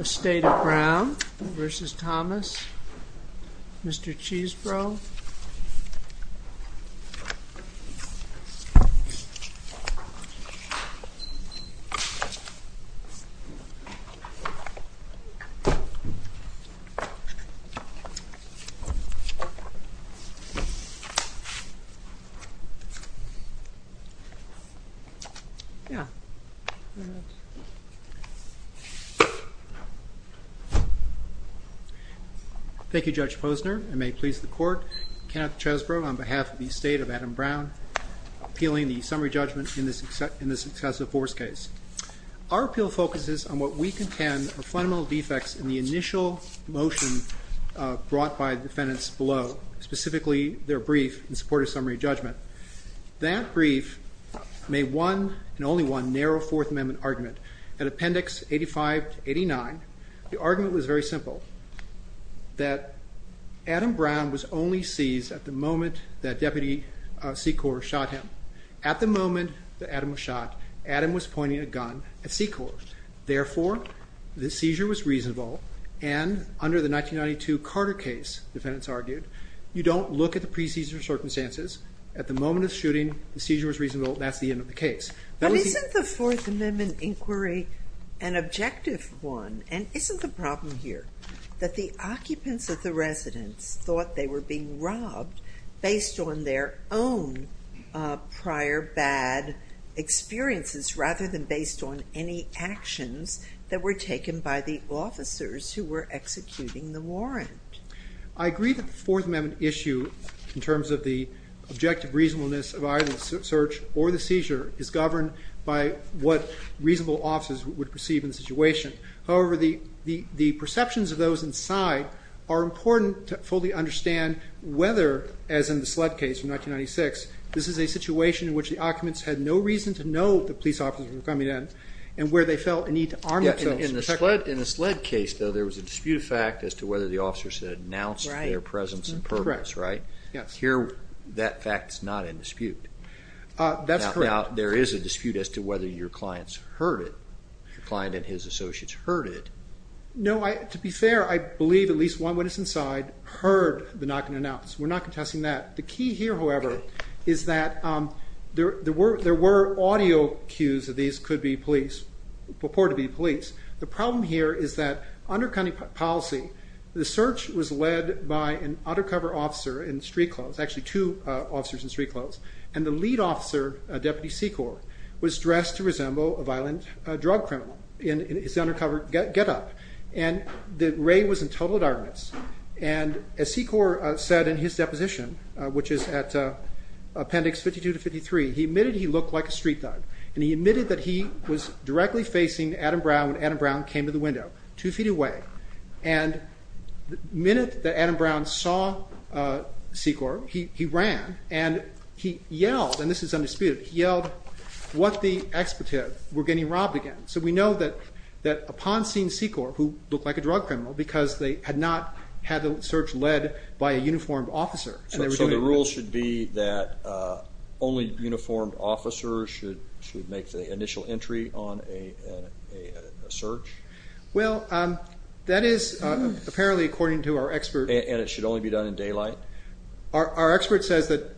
Estate of Adam Brown v. Timothy Thomas Thank you Judge Posner, and may it please the court, Kenneth Chesbrough on behalf of the Estate of Adam Brown appealing the summary judgment in this excessive force case. Our appeal focuses on what we contend are fundamental defects in the initial motion brought by the defendants below, specifically their brief in support of summary judgment. That brief made one, and only one, narrow Fourth Amendment argument. In Appendix 85-89, the argument was very simple, that Adam Brown was only seized at the moment that Deputy Secor shot him. At the moment that Adam was shot, Adam was pointing a gun at Secor. Therefore, the seizure was reasonable, and under the 1992 Carter case, defendants argued, you don't look at the pre-seizure circumstances. At the moment of shooting, the seizure was reasonable, and that's the end of the case. But isn't the Fourth Amendment inquiry an objective one? And isn't the problem here that the occupants of the residence thought they were being robbed based on their own prior bad experiences, rather than based on any actions that were taken by the officers who were executing the warrant? I agree that the Fourth Amendment issue, in terms of the objective reasonableness of either the search or the seizure, is governed by what reasonable officers would perceive in the situation. However, the perceptions of those inside are important to fully understand whether, as in the SLED case from 1996, this is a situation in which the occupants had no reason to know that police officers were coming in, and where they felt a need to arm themselves. In the SLED case, though, there was a disputed fact as to whether the officers had announced their presence in purpose, right? Yes. Here, that fact is not in dispute. That's correct. Now, there is a dispute as to whether your client and his associates heard it. No, to be fair, I believe at least one witness inside heard the knocking and announce. We're not contesting that. The key here, however, is that there were audio cues that these could be police, purported to be police. The problem here is that under county policy, the search was led by an undercover officer in street clothes, actually two officers in street clothes, and the lead officer, Deputy Secor, was dressed to resemble a violent drug criminal in his undercover getup. Ray was in total darkness, and as Secor said in his deposition, which is at appendix 52 to 53, he admitted he looked like a street thug, and he admitted that he was directly facing Adam Brown when Adam Brown came to the window, two feet away. The minute that Adam Brown saw Secor, he ran, and he yelled, and this is undisputed, he yelled, what the expetive, we're getting robbed again. So we know that upon seeing Secor, who looked like a drug criminal, because they had not had the search led by a uniformed officer. So the rule should be that only uniformed officers should make the initial entry on a search? Well, that is apparently according to our expert. And it should only be done in daylight? Our expert says that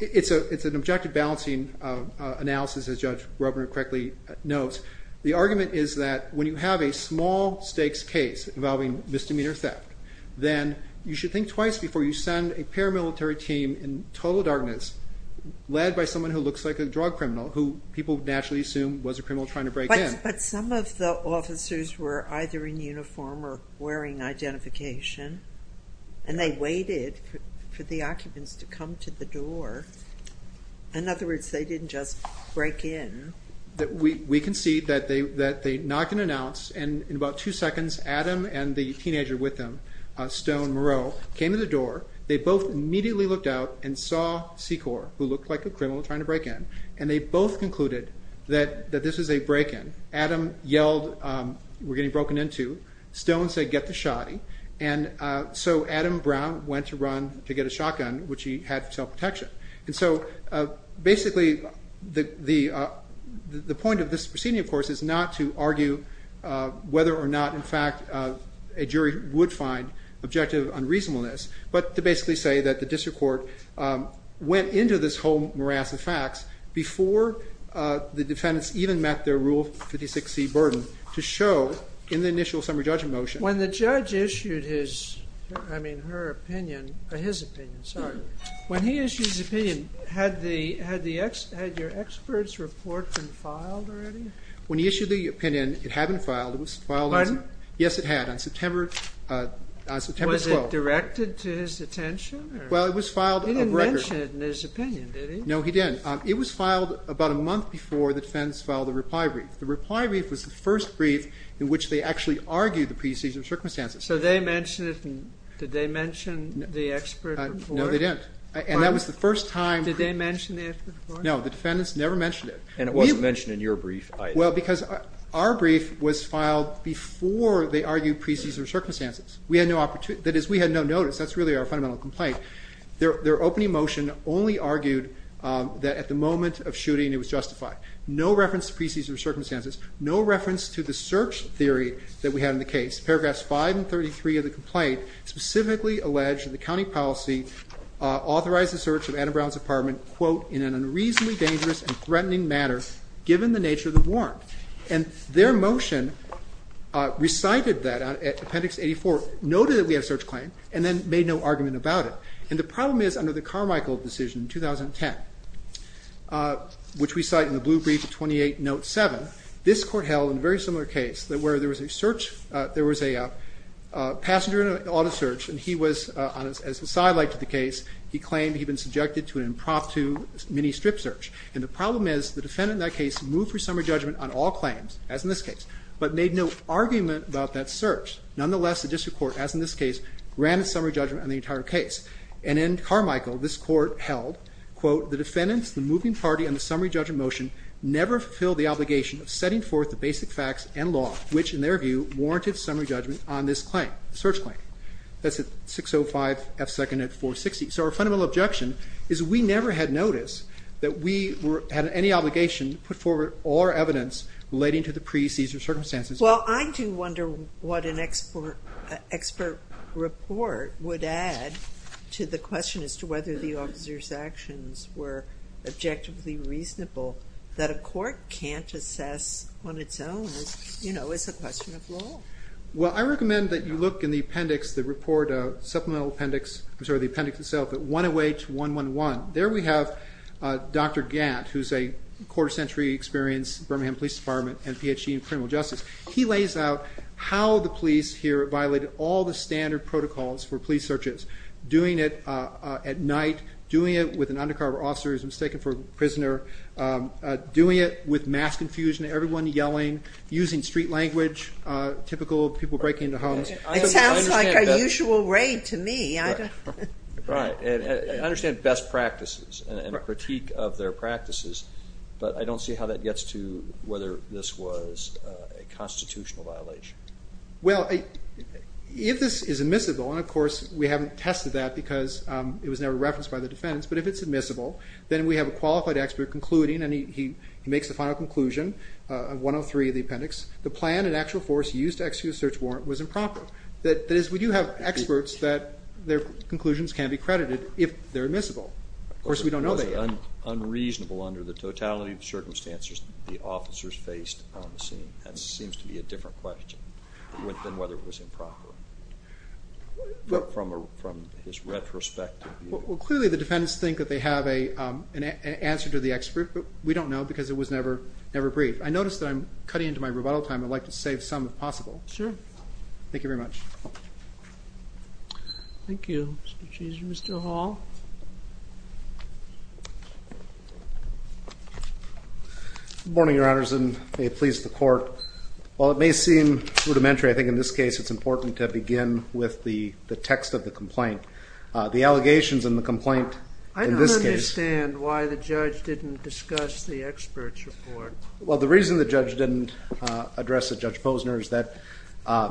it's an objective balancing analysis, as Judge Rubner correctly notes. The argument is that when you have a small stakes case involving misdemeanor theft, then you should think twice before you send a paramilitary team in total darkness, led by someone who looks like a drug criminal, who people naturally assume was a criminal trying to break in. But some of the officers were either in uniform or wearing identification, and they waited for the occupants to come to the door. In other words, they didn't just break in. We can see that they knocked and announced, and in about two seconds, Adam and the teenager with them, Stone Moreau, came to the door. They both immediately looked out and saw Secor, who looked like a criminal trying to break in. And they both concluded that this is a break in. Adam yelled, we're getting broken into. Stone said, get the shotty. And so Adam Brown went to run to get a shotgun, which he had for self-protection. And so basically, the point of this proceeding, of course, is not to argue whether or not, in fact, a jury would find objective unreasonableness, but to basically say that the district court went into this whole morass of facts before the defendants even met their Rule 56C burden to show in the initial summary judgment motion. When the judge issued his opinion, had your expert's report been filed already? When he issued the opinion, it had been filed. Pardon? Yes, it had, on September 12th. Was it directed to his attention? Well, it was filed a record. He didn't mention it in his opinion, did he? No, he didn't. It was filed about a month before the defendants filed the reply brief. The reply brief was the first brief in which they actually argued the pre-seizure circumstances. So they mentioned it, and did they mention the expert report? No, they didn't. And that was the first time. Did they mention the expert report? No, the defendants never mentioned it. And it wasn't mentioned in your brief either. Well, because our brief was filed before they argued pre-seizure circumstances. That is, we had no notice. That's really our fundamental complaint. Their opening motion only argued that at the moment of shooting it was justified. No reference to pre-seizure circumstances. No reference to the search theory that we had in the case. Paragraphs 5 and 33 of the complaint specifically allege that the county policy authorized the search of Adam Brown's apartment, quote, in an unreasonably dangerous and threatening manner, given the nature of the warrant. And their motion recited that at Appendix 84, noted that we had a search claim, and then made no argument about it. And the problem is, under the Carmichael decision in 2010, which we cite in the blue brief of 28 Note 7, this court held in a very similar case that where there was a search, there was a passenger in an auto search, and he was, as the side light to the case, he claimed he'd been subjected to an impromptu mini strip search. And the problem is, the defendant in that case moved for summary judgment on all claims, as in this case, but made no argument about that search. Nonetheless, the district court, as in this case, ran a summary judgment on the entire case. And in Carmichael, this court held, quote, the defendants, the moving party, and the summary judgment motion never fulfilled the obligation of setting forth the basic facts and law, which, in their view, warranted summary judgment on this claim, the search claim. That's at 605F2nd and 460. So our fundamental objection is we never had notice that we had any obligation to put forward all our evidence relating to the pre-seizure circumstances. Well, I do wonder what an expert report would add to the question as to whether the officer's actions were objectively reasonable that a court can't assess on its own, you know, as a question of law. Well, I recommend that you look in the appendix, the report, supplemental appendix, I'm sorry, the appendix itself, at 108111. There we have Dr. Gant, who's a quarter century experience, Birmingham Police Department, and Ph.D. in criminal justice. He lays out how the police here violated all the standard protocols for police searches, doing it at night, doing it with an undercover officer who's mistaken for a prisoner, doing it with mass confusion, everyone yelling, using street language, typical people breaking into homes. It sounds like a usual raid to me. Right. And I understand best practices and critique of their practices, but I don't see how that gets to whether this was a constitutional violation. Well, if this is admissible, and, of course, we haven't tested that because it was never referenced by the defense, but if it's admissible then we have a qualified expert concluding, and he makes the final conclusion of 103 of the appendix, the plan and actual force used to execute a search warrant was improper. That is, we do have experts that their conclusions can be credited if they're admissible. Of course, we don't know that yet. It was unreasonable under the totality of circumstances the officers faced on the scene. That seems to be a different question than whether it was improper. But from his retrospective view. Well, clearly the defendants think that they have an answer to the expert, but we don't know because it was never briefed. I notice that I'm cutting into my rebuttal time. I'd like to save some if possible. Sure. Thank you very much. Thank you, Mr. Chief. Mr. Hall. Good morning, Your Honors, and may it please the Court. While it may seem rudimentary, I think in this case it's important to begin with the text of the complaint. The allegations in the complaint in this case. I don't understand why the judge didn't discuss the expert's report. Well, the reason the judge didn't address it, Judge Posner, is that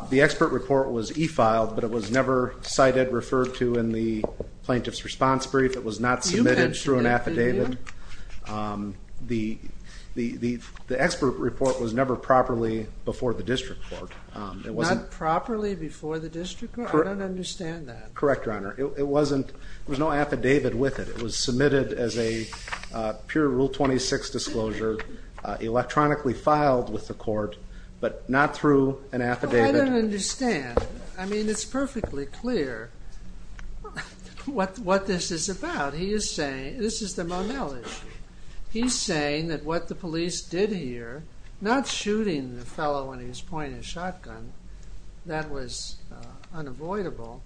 the expert report was e-filed, but it was never cited, referred to in the plaintiff's response brief. It was not submitted through an affidavit. You mentioned that, didn't you? The expert report was never properly before the district court. Not properly before the district court? I don't understand that. Correct, Your Honor. It wasn't. There was no affidavit with it. It was submitted as a pure Rule 26 disclosure, electronically filed with the court, but not through an affidavit. Well, I don't understand. I mean, it's perfectly clear what this is about. This is the Monell issue. He's saying that what the police did here, not shooting the fellow in his pointy shotgun, that was unavoidable,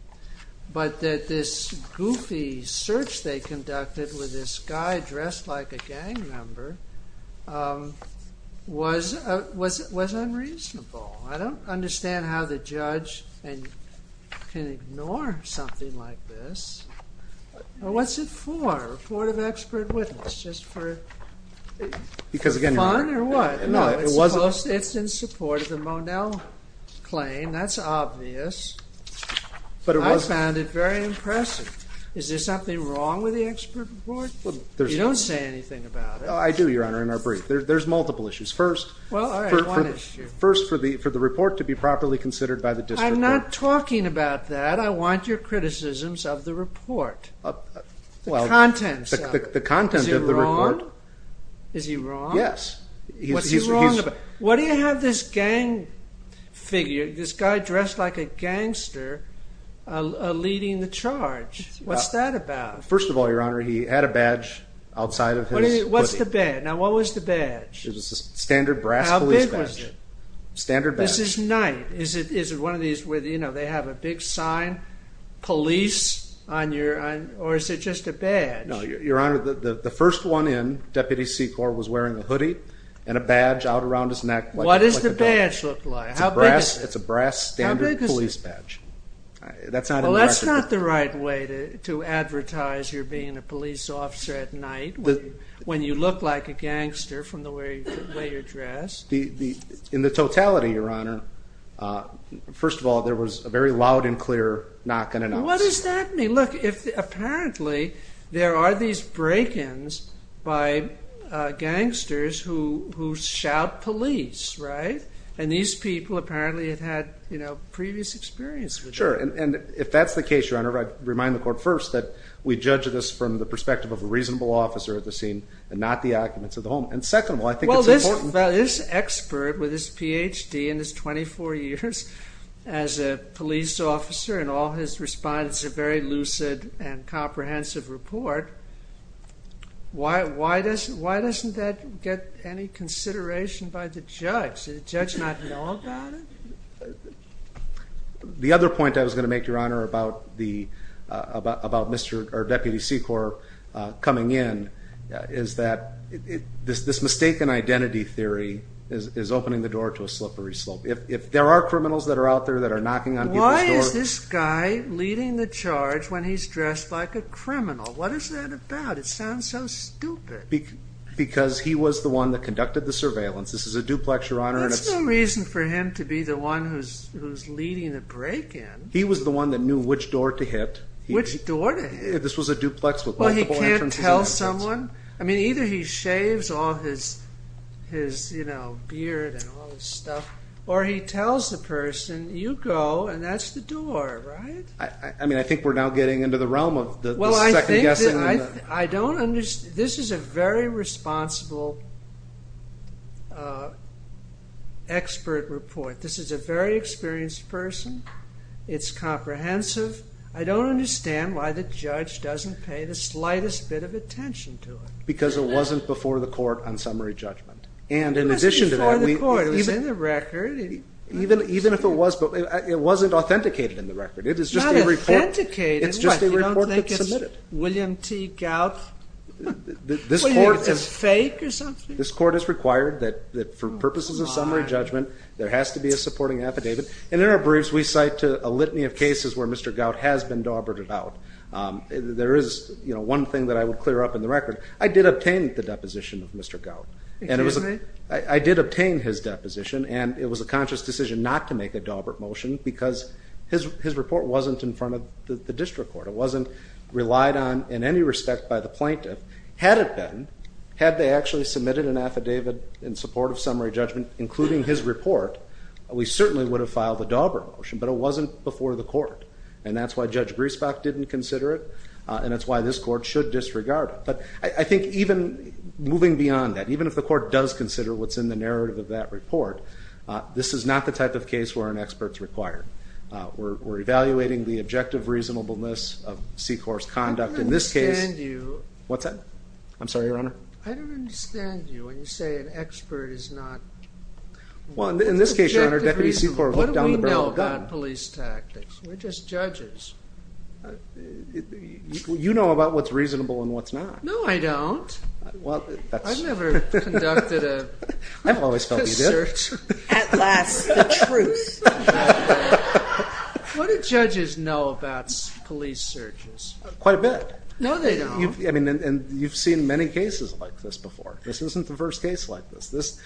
but that this goofy search they conducted with this guy dressed like a gang member was unreasonable. I don't understand how the judge can ignore something like this. What's it for? Report of expert witness, just for fun or what? It's in support of the Monell claim. That's obvious. I found it very impressive. Is there something wrong with the expert report? You don't say anything about it. I do, Your Honor, in our brief. There's multiple issues. First, for the report to be properly considered by the district court. I'm not talking about that. I want your criticisms of the report, the contents of it. Is he wrong? Is he wrong? Yes. What do you have this gang figure, this guy dressed like a gangster, leading the charge? What's that about? First of all, Your Honor, he had a badge outside of his hoodie. What's the badge? Now, what was the badge? It was a standard brass police badge. How big was it? Standard badge. This is night. Is it one of these where they have a big sign, police, or is it just a badge? No, Your Honor, the first one in, Deputy Secor, was wearing a hoodie and a badge out around his neck. What does the badge look like? How big is it? It's a brass standard police badge. Well, that's not the right way to advertise you're being a police officer at night when you look like a gangster from the way you're dressed. In the totality, Your Honor, first of all, there was a very loud and clear knock and announce. What does that mean? Look, apparently there are these break-ins by gangsters who shout police, right? And these people apparently have had previous experience with that. Sure, and if that's the case, Your Honor, I'd remind the court first that we judge this from the perspective of a reasonable officer at the scene and not the occupants of the home. Well, this expert with his Ph.D. and his 24 years as a police officer and all his respondents have a very lucid and comprehensive report. Why doesn't that get any consideration by the judge? Does the judge not know about it? The other point I was going to make, Your Honor, about Deputy Secor coming in is that this mistaken identity theory is opening the door to a slippery slope. If there are criminals that are out there that are knocking on people's doors... Why is this guy leading the charge when he's dressed like a criminal? What is that about? It sounds so stupid. Because he was the one that conducted the surveillance. This is a duplex, Your Honor. There's no reason for him to be the one who's leading the break-in. He was the one that knew which door to hit. Which door to hit? This was a duplex with multiple entrances. Well, he can't tell someone? I mean, either he shaves all his beard and all his stuff, or he tells the person, you go, and that's the door, right? I mean, I think we're now getting into the realm of the second-guessing. This is a very responsible expert report. This is a very experienced person. It's comprehensive. I don't understand why the judge doesn't pay the slightest bit of attention to it. Because it wasn't before the court on summary judgment. It was before the court. It was in the record. Even if it was, it wasn't authenticated in the record. It's not authenticated. It's just a report that's submitted. William T. Gout? William is fake or something? This court has required that for purposes of summary judgment, there has to be a supporting affidavit. And there are briefs we cite to a litany of cases where Mr. Gout has been daubered out. There is one thing that I would clear up in the record. I did obtain the deposition of Mr. Gout. Excuse me? I did obtain his deposition, and it was a conscious decision not to make a daubered motion, because his report wasn't in front of the district court. It wasn't relied on in any respect by the plaintiff. Had it been, had they actually submitted an affidavit in support of summary judgment, including his report, we certainly would have filed a daubered motion, but it wasn't before the court. And that's why Judge Griesbach didn't consider it, and that's why this court should disregard it. But I think even moving beyond that, even if the court does consider what's in the narrative of that report, this is not the type of case where an expert is required. We're evaluating the objective reasonableness of SECOR's conduct in this case. I don't understand you. What's that? I'm sorry, Your Honor? I don't understand you when you say an expert is not. Well, in this case, Your Honor, Deputy SECOR looked down the barrel of a gun. What do we know about police tactics? We're just judges. You know about what's reasonable and what's not. No, I don't. I've never conducted a search. At last, the truth. What do judges know about police searches? Quite a bit. No, they don't. And you've seen many cases like this before. This isn't the first case like this.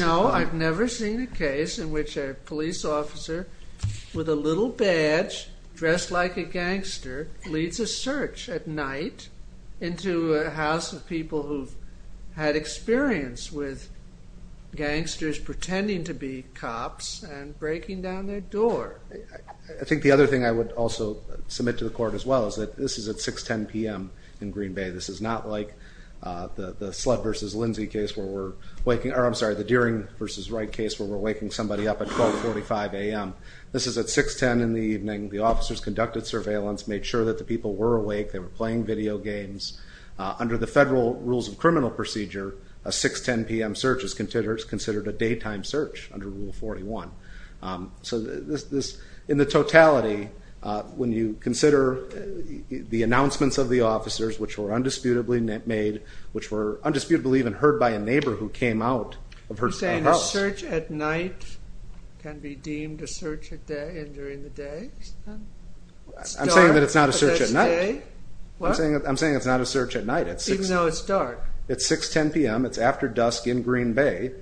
No, I've never seen a case in which a police officer with a little badge, dressed like a gangster, leads a search at night into a house of people who've had experience with gangsters pretending to be cops and breaking down their door. I think the other thing I would also submit to the Court as well is that this is at 6.10 p.m. in Green Bay. This is not like the Deering v. Wright case where we're waking somebody up at 12.45 a.m. This is at 6.10 in the evening. The officers conducted surveillance, made sure that the people were awake, they were playing video games. Under the Federal Rules of Criminal Procedure, a 6.10 p.m. search is considered a daytime search under Rule 41. So in the totality, when you consider the announcements of the officers, which were undisputably made, which were undisputably even heard by a neighbor who came out of her own house. You're saying a search at night can be deemed a search during the day? I'm saying that it's not a search at night. I'm saying it's not a search at night. Even though it's dark. It's 6.10 p.m. It's after dusk in Green Bay.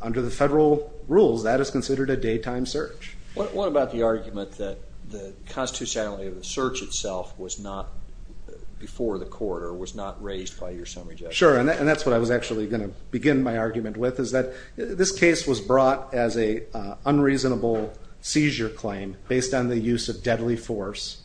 Under the Federal Rules, that is considered a daytime search. What about the argument that the constitutionality of the search itself was not before the court or was not raised by your summary judge? Sure, and that's what I was actually going to begin my argument with, is that this case was brought as an unreasonable seizure claim based on the use of deadly force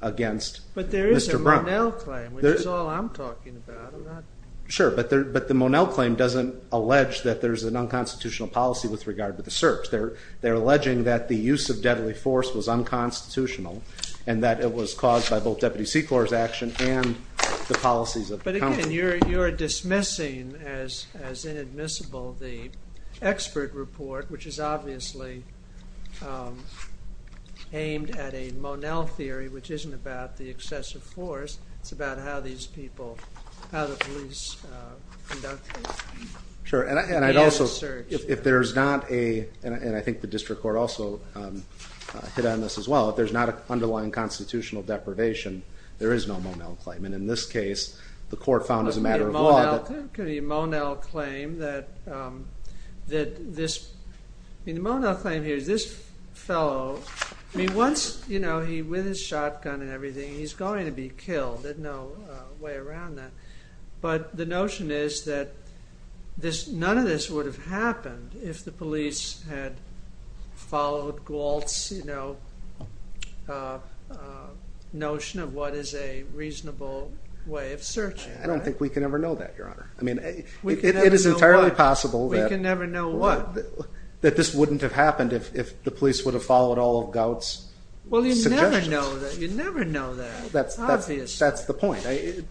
against Mr. Brown. But there is a Monell claim, which is all I'm talking about. Sure, but the Monell claim doesn't allege that there's an unconstitutional policy with regard to the search. They're alleging that the use of deadly force was unconstitutional and that it was caused by both Deputy Seclor's action and the policies of the company. But again, you're dismissing as inadmissible the expert report, which is obviously aimed at a Monell theory, which isn't about the excessive force. It's about how these people, how the police conducted the search. Sure, and I'd also, if there's not a, and I think the district court also hit on this as well, if there's not an underlying constitutional deprivation, there is no Monell claim. And in this case, the court found as a matter of law that... The Monell claim here is this fellow, once he, with his shotgun and everything, he's going to be killed. There's no way around that. But the notion is that none of this would have happened if the police had followed Gault's notion of what is a reasonable way of searching. I don't think we can ever know that, Your Honor. I mean, it is entirely possible that... We can never know what? That this wouldn't have happened if the police would have followed all of Gault's suggestions. Well, you never know that. You never know that. That's the point.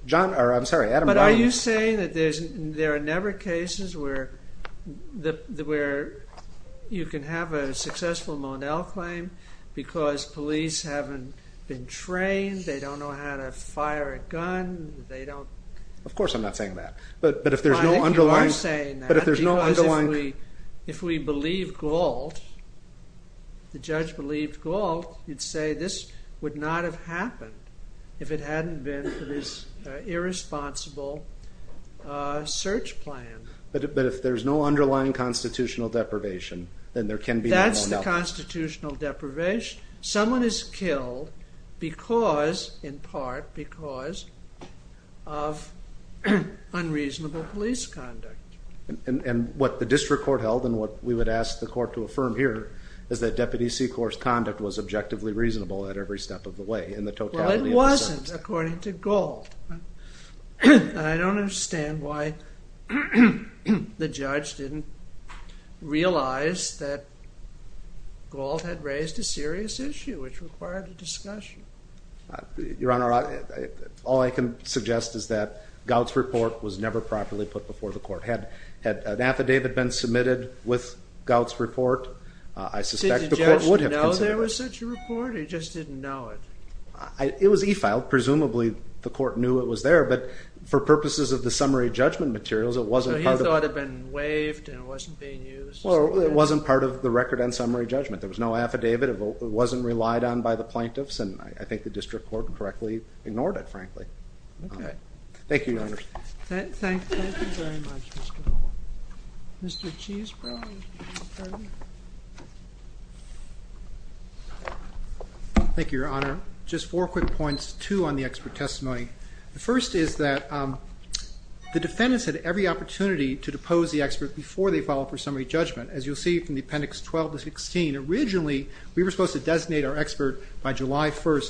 John, or I'm sorry, Adam Brown... But are you saying that there are never cases where you can have a successful Monell claim because police haven't been trained, they don't know how to fire a gun, they don't... Of course I'm not saying that. But if there's no underlying... Fine, if you are saying that. But if there's no underlying... Because if we believe Gault, the judge believed Gault, you'd say this would not have happened if it hadn't been for this irresponsible search plan. But if there's no underlying constitutional deprivation, then there can be no Monell. That's the constitutional deprivation. Someone is killed because, in part because, of unreasonable police conduct. And what the district court held and what we would ask the court to affirm here is that Deputy Secor's conduct was objectively reasonable at every step of the way, in the totality of the sentence. I don't understand why the judge didn't realize that Gault had raised a serious issue which required a discussion. Your Honor, all I can suggest is that Gault's report was never properly put before the court. Had an affidavit been submitted with Gault's report, I suspect the court would have considered it. Did the judge know there was such a report or he just didn't know it? It was e-filed. Presumably the court knew it was there, but for purposes of the summary judgment materials, it wasn't part of the... So he thought it had been waived and it wasn't being used? Well, it wasn't part of the record and summary judgment. There was no affidavit. It wasn't relied on by the plaintiffs, and I think the district court correctly ignored it, frankly. Okay. Thank you, Your Honor. Thank you very much, Mr. Gault. Mr. Cheesbrough? Thank you, Your Honor. Just four quick points, two on the expert testimony. The first is that the defendants had every opportunity to depose the expert before they filed for summary judgment. As you'll see from the Appendix 12 to 16, originally we were supposed to designate our expert by July 1,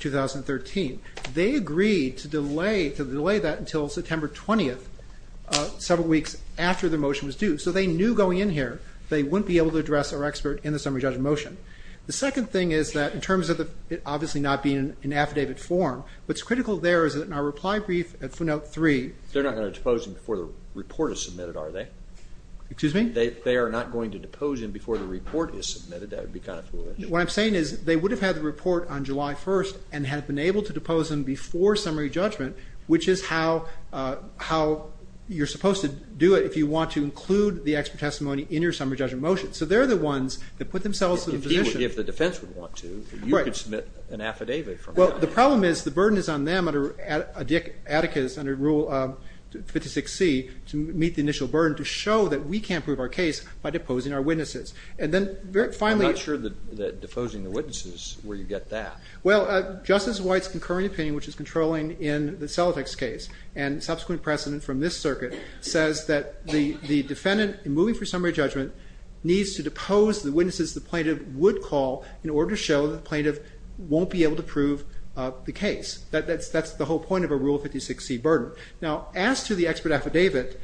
2013. They agreed to delay that until September 20th, several weeks after the motion was due. So they knew going in here they wouldn't be able to address our expert in the summary judgment motion. The second thing is that in terms of it obviously not being in affidavit form, what's critical there is that in our reply brief at footnote 3... They're not going to depose him before the report is submitted, are they? Excuse me? They are not going to depose him before the report is submitted. That would be kind of foolish. What I'm saying is they would have had the report on July 1 and had been able to depose him before summary judgment, which is how you're supposed to do it if you want to include the expert testimony in your summary judgment motion. So they're the ones that put themselves in the position... If the defense would want to, you could submit an affidavit from that. Well, the problem is the burden is on them, Atticus under Rule 56C to meet the initial burden to show that we can't prove our case by deposing our witnesses. And then finally... I'm not sure that deposing the witnesses is where you get that. Well, Justice White's concurring opinion, which is controlling in the Celtics case and subsequent precedent from this circuit, says that the defendant in moving for summary judgment needs to depose the witnesses the plaintiff would call in order to show the plaintiff won't be able to prove the case. That's the whole point of a Rule 56C burden. Now, as to the expert affidavit,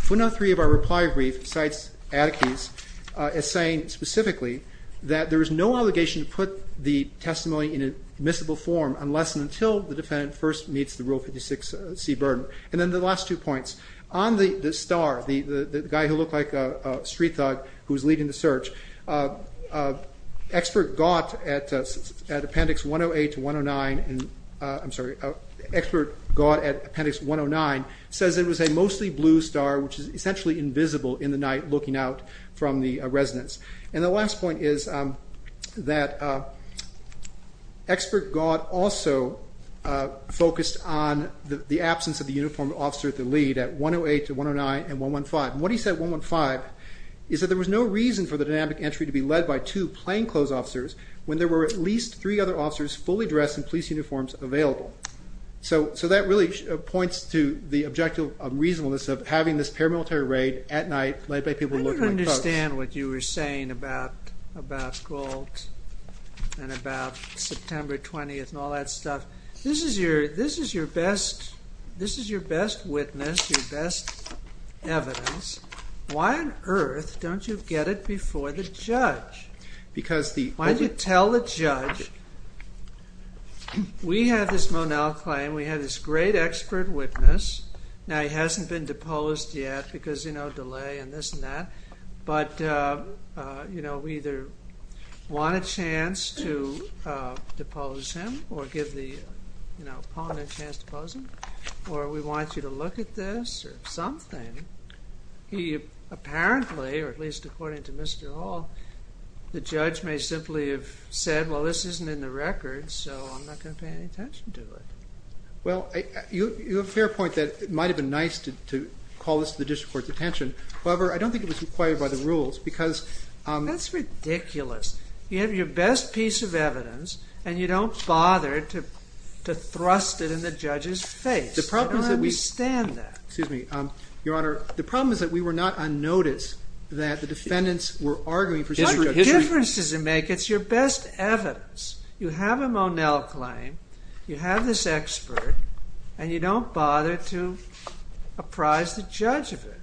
footnote 3 of our reply brief cites Atticus as saying specifically that there is no allegation to put the testimony in admissible form unless and until the defendant first meets the Rule 56C burden. And then the last two points. On the star, the guy who looked like a street thug who was leading the search, expert got at appendix 108 to 109... I'm sorry, expert got at appendix 109 says it was a mostly blue star, which is essentially invisible in the night looking out from the residence. And the last point is that expert got also focused on the absence of the uniformed officer at the lead at 108 to 109 and 115. What he said at 115 is that there was no reason for the dynamic entry to be led by two plainclothes officers when there were at least three other officers fully dressed in police uniforms available. So that really points to the objective reasonableness of having this paramilitary raid at night led by people who look like thugs. I understand what you were saying about Gault and about September 20th and all that stuff. This is your best witness, your best evidence. Why on earth don't you get it before the judge? Why don't you tell the judge, we have this Monell claim, we have this great expert witness. Now he hasn't been deposed yet because of delay and this and that. But we either want a chance to depose him or give the opponent a chance to depose him or we want you to look at this or something. He apparently, or at least according to Mr. Hall, the judge may simply have said, well, this isn't in the records so I'm not going to pay any attention to it. Well, you have a fair point that it might have been nice to call this to the district court's attention. However, I don't think it was required by the rules because... That's ridiculous. You have your best piece of evidence and you don't bother to thrust it in the judge's face. I don't understand that. Excuse me, Your Honor. The problem is that we were not unnoticed that the defendants were arguing... What difference does it make? It's your best evidence. You have a Monell claim, you have this expert and you don't bother to apprise the judge of it.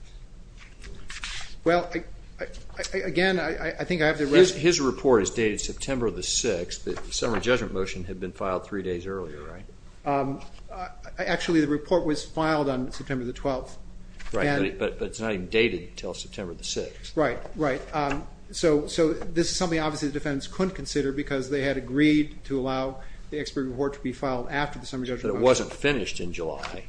Well, again, I think I have the... His report is dated September the 6th. The summary judgment motion had been filed 3 days earlier, right? Actually, the report was filed on September the 12th. Right, but it's not even dated until September the 6th. Right, right. So this is something obviously the defendants couldn't consider because they had agreed to allow the expert report to be filed after the summary judgment motion. But it wasn't finished in July.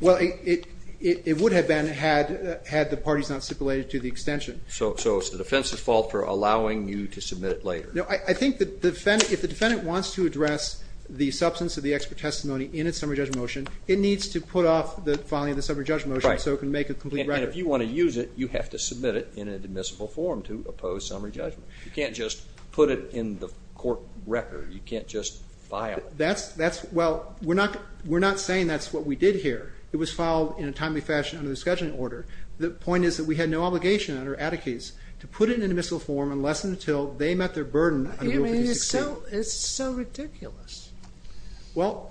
Well, it would have been had the parties not stipulated to the extension. So it's the defense's fault for allowing you to submit it later. No, I think if the defendant wants to address the substance of the expert testimony in its summary judgment motion, it needs to put off the filing of the summary judgment motion so it can make a complete record. And if you want to use it, you have to submit it in an admissible form to oppose summary judgment. You can't just put it in the court record. You can't just file it. Well, we're not saying that's what we did here. It was filed in a timely fashion under the scheduling order. The point is that we had no obligation under Atticus to put it in an admissible form unless and until they met their burden under Rule 362. It's so ridiculous.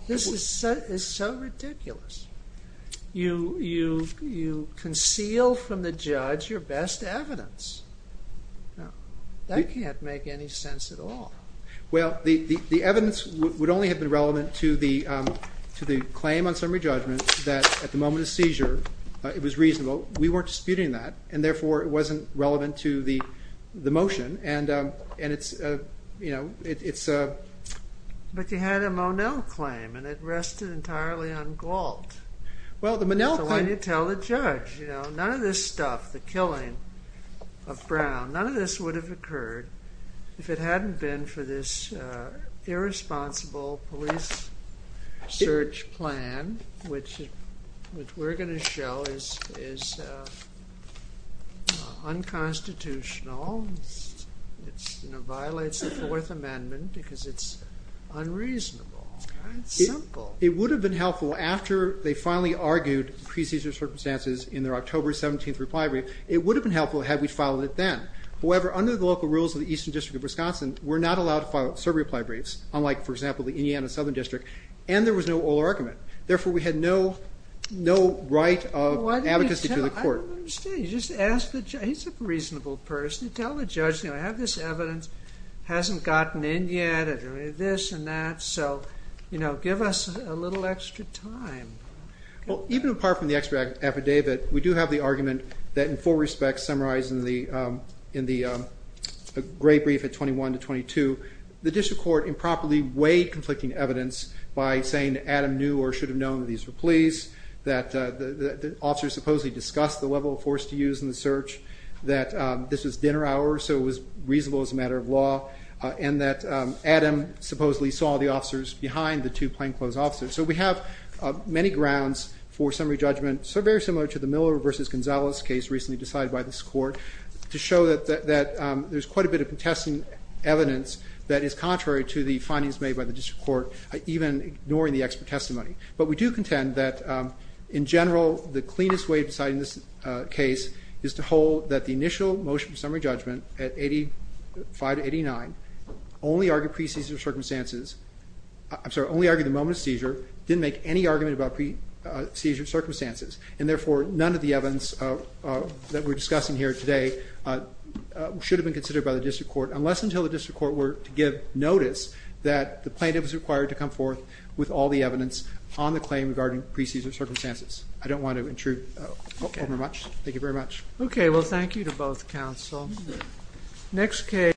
This is so ridiculous. You conceal from the judge your best evidence. That can't make any sense at all. Well, the evidence would only have been relevant to the claim on summary judgment that at the moment of seizure it was reasonable. We weren't disputing that, and therefore it wasn't relevant to the motion. But you had a Monell claim, and it rested entirely on Gault. So why didn't you tell the judge? None of this stuff, the killing of Brown, none of this would have occurred if it hadn't been for this irresponsible police search plan, which we're going to show is unconstitutional. It violates the Fourth Amendment because it's unreasonable. It's simple. It would have been helpful after they finally argued pre-seizure circumstances in their October 17th reply brief. It would have been helpful had we filed it then. However, under the local rules of the Eastern District of Wisconsin, we're not allowed to file survey reply briefs, unlike, for example, the Indiana Southern District, and there was no oral argument. Therefore, we had no right of advocacy to the court. I don't understand. You just ask the judge. He's a reasonable person. You tell the judge, I have this evidence, hasn't gotten in yet, this and that, so give us a little extra time. Even apart from the extra affidavit, we do have the argument that in full respect, summarized in the gray brief at 21 to 22, the district court improperly weighed conflicting evidence by saying that Adam knew or should have known that these were pleas, that the officers supposedly discussed the level of force to use in the search, that this was dinner hours, so it was reasonable as a matter of law, and that Adam supposedly saw the officers behind the two plainclothes officers. So we have many grounds for summary judgment, so very similar to the Miller v. Gonzalez case recently decided by this court, to show that there's quite a bit of contesting evidence that is contrary to the findings made by the district court, even ignoring the expert testimony. But we do contend that in general, the cleanest way of deciding this case is to hold that the initial motion of summary judgment at 85 to 89 only argued pre-seizure circumstances, I'm sorry, only argued the moment of seizure, didn't make any argument about pre-seizure circumstances, and therefore none of the evidence that we're discussing here today should have been considered by the district court, unless until the district court were to give notice that the plaintiff was required to come forth with all the evidence on the claim regarding pre-seizure circumstances. I don't want to intrude overmuch. Thank you very much. Okay, well thank you to both counsel. Next case.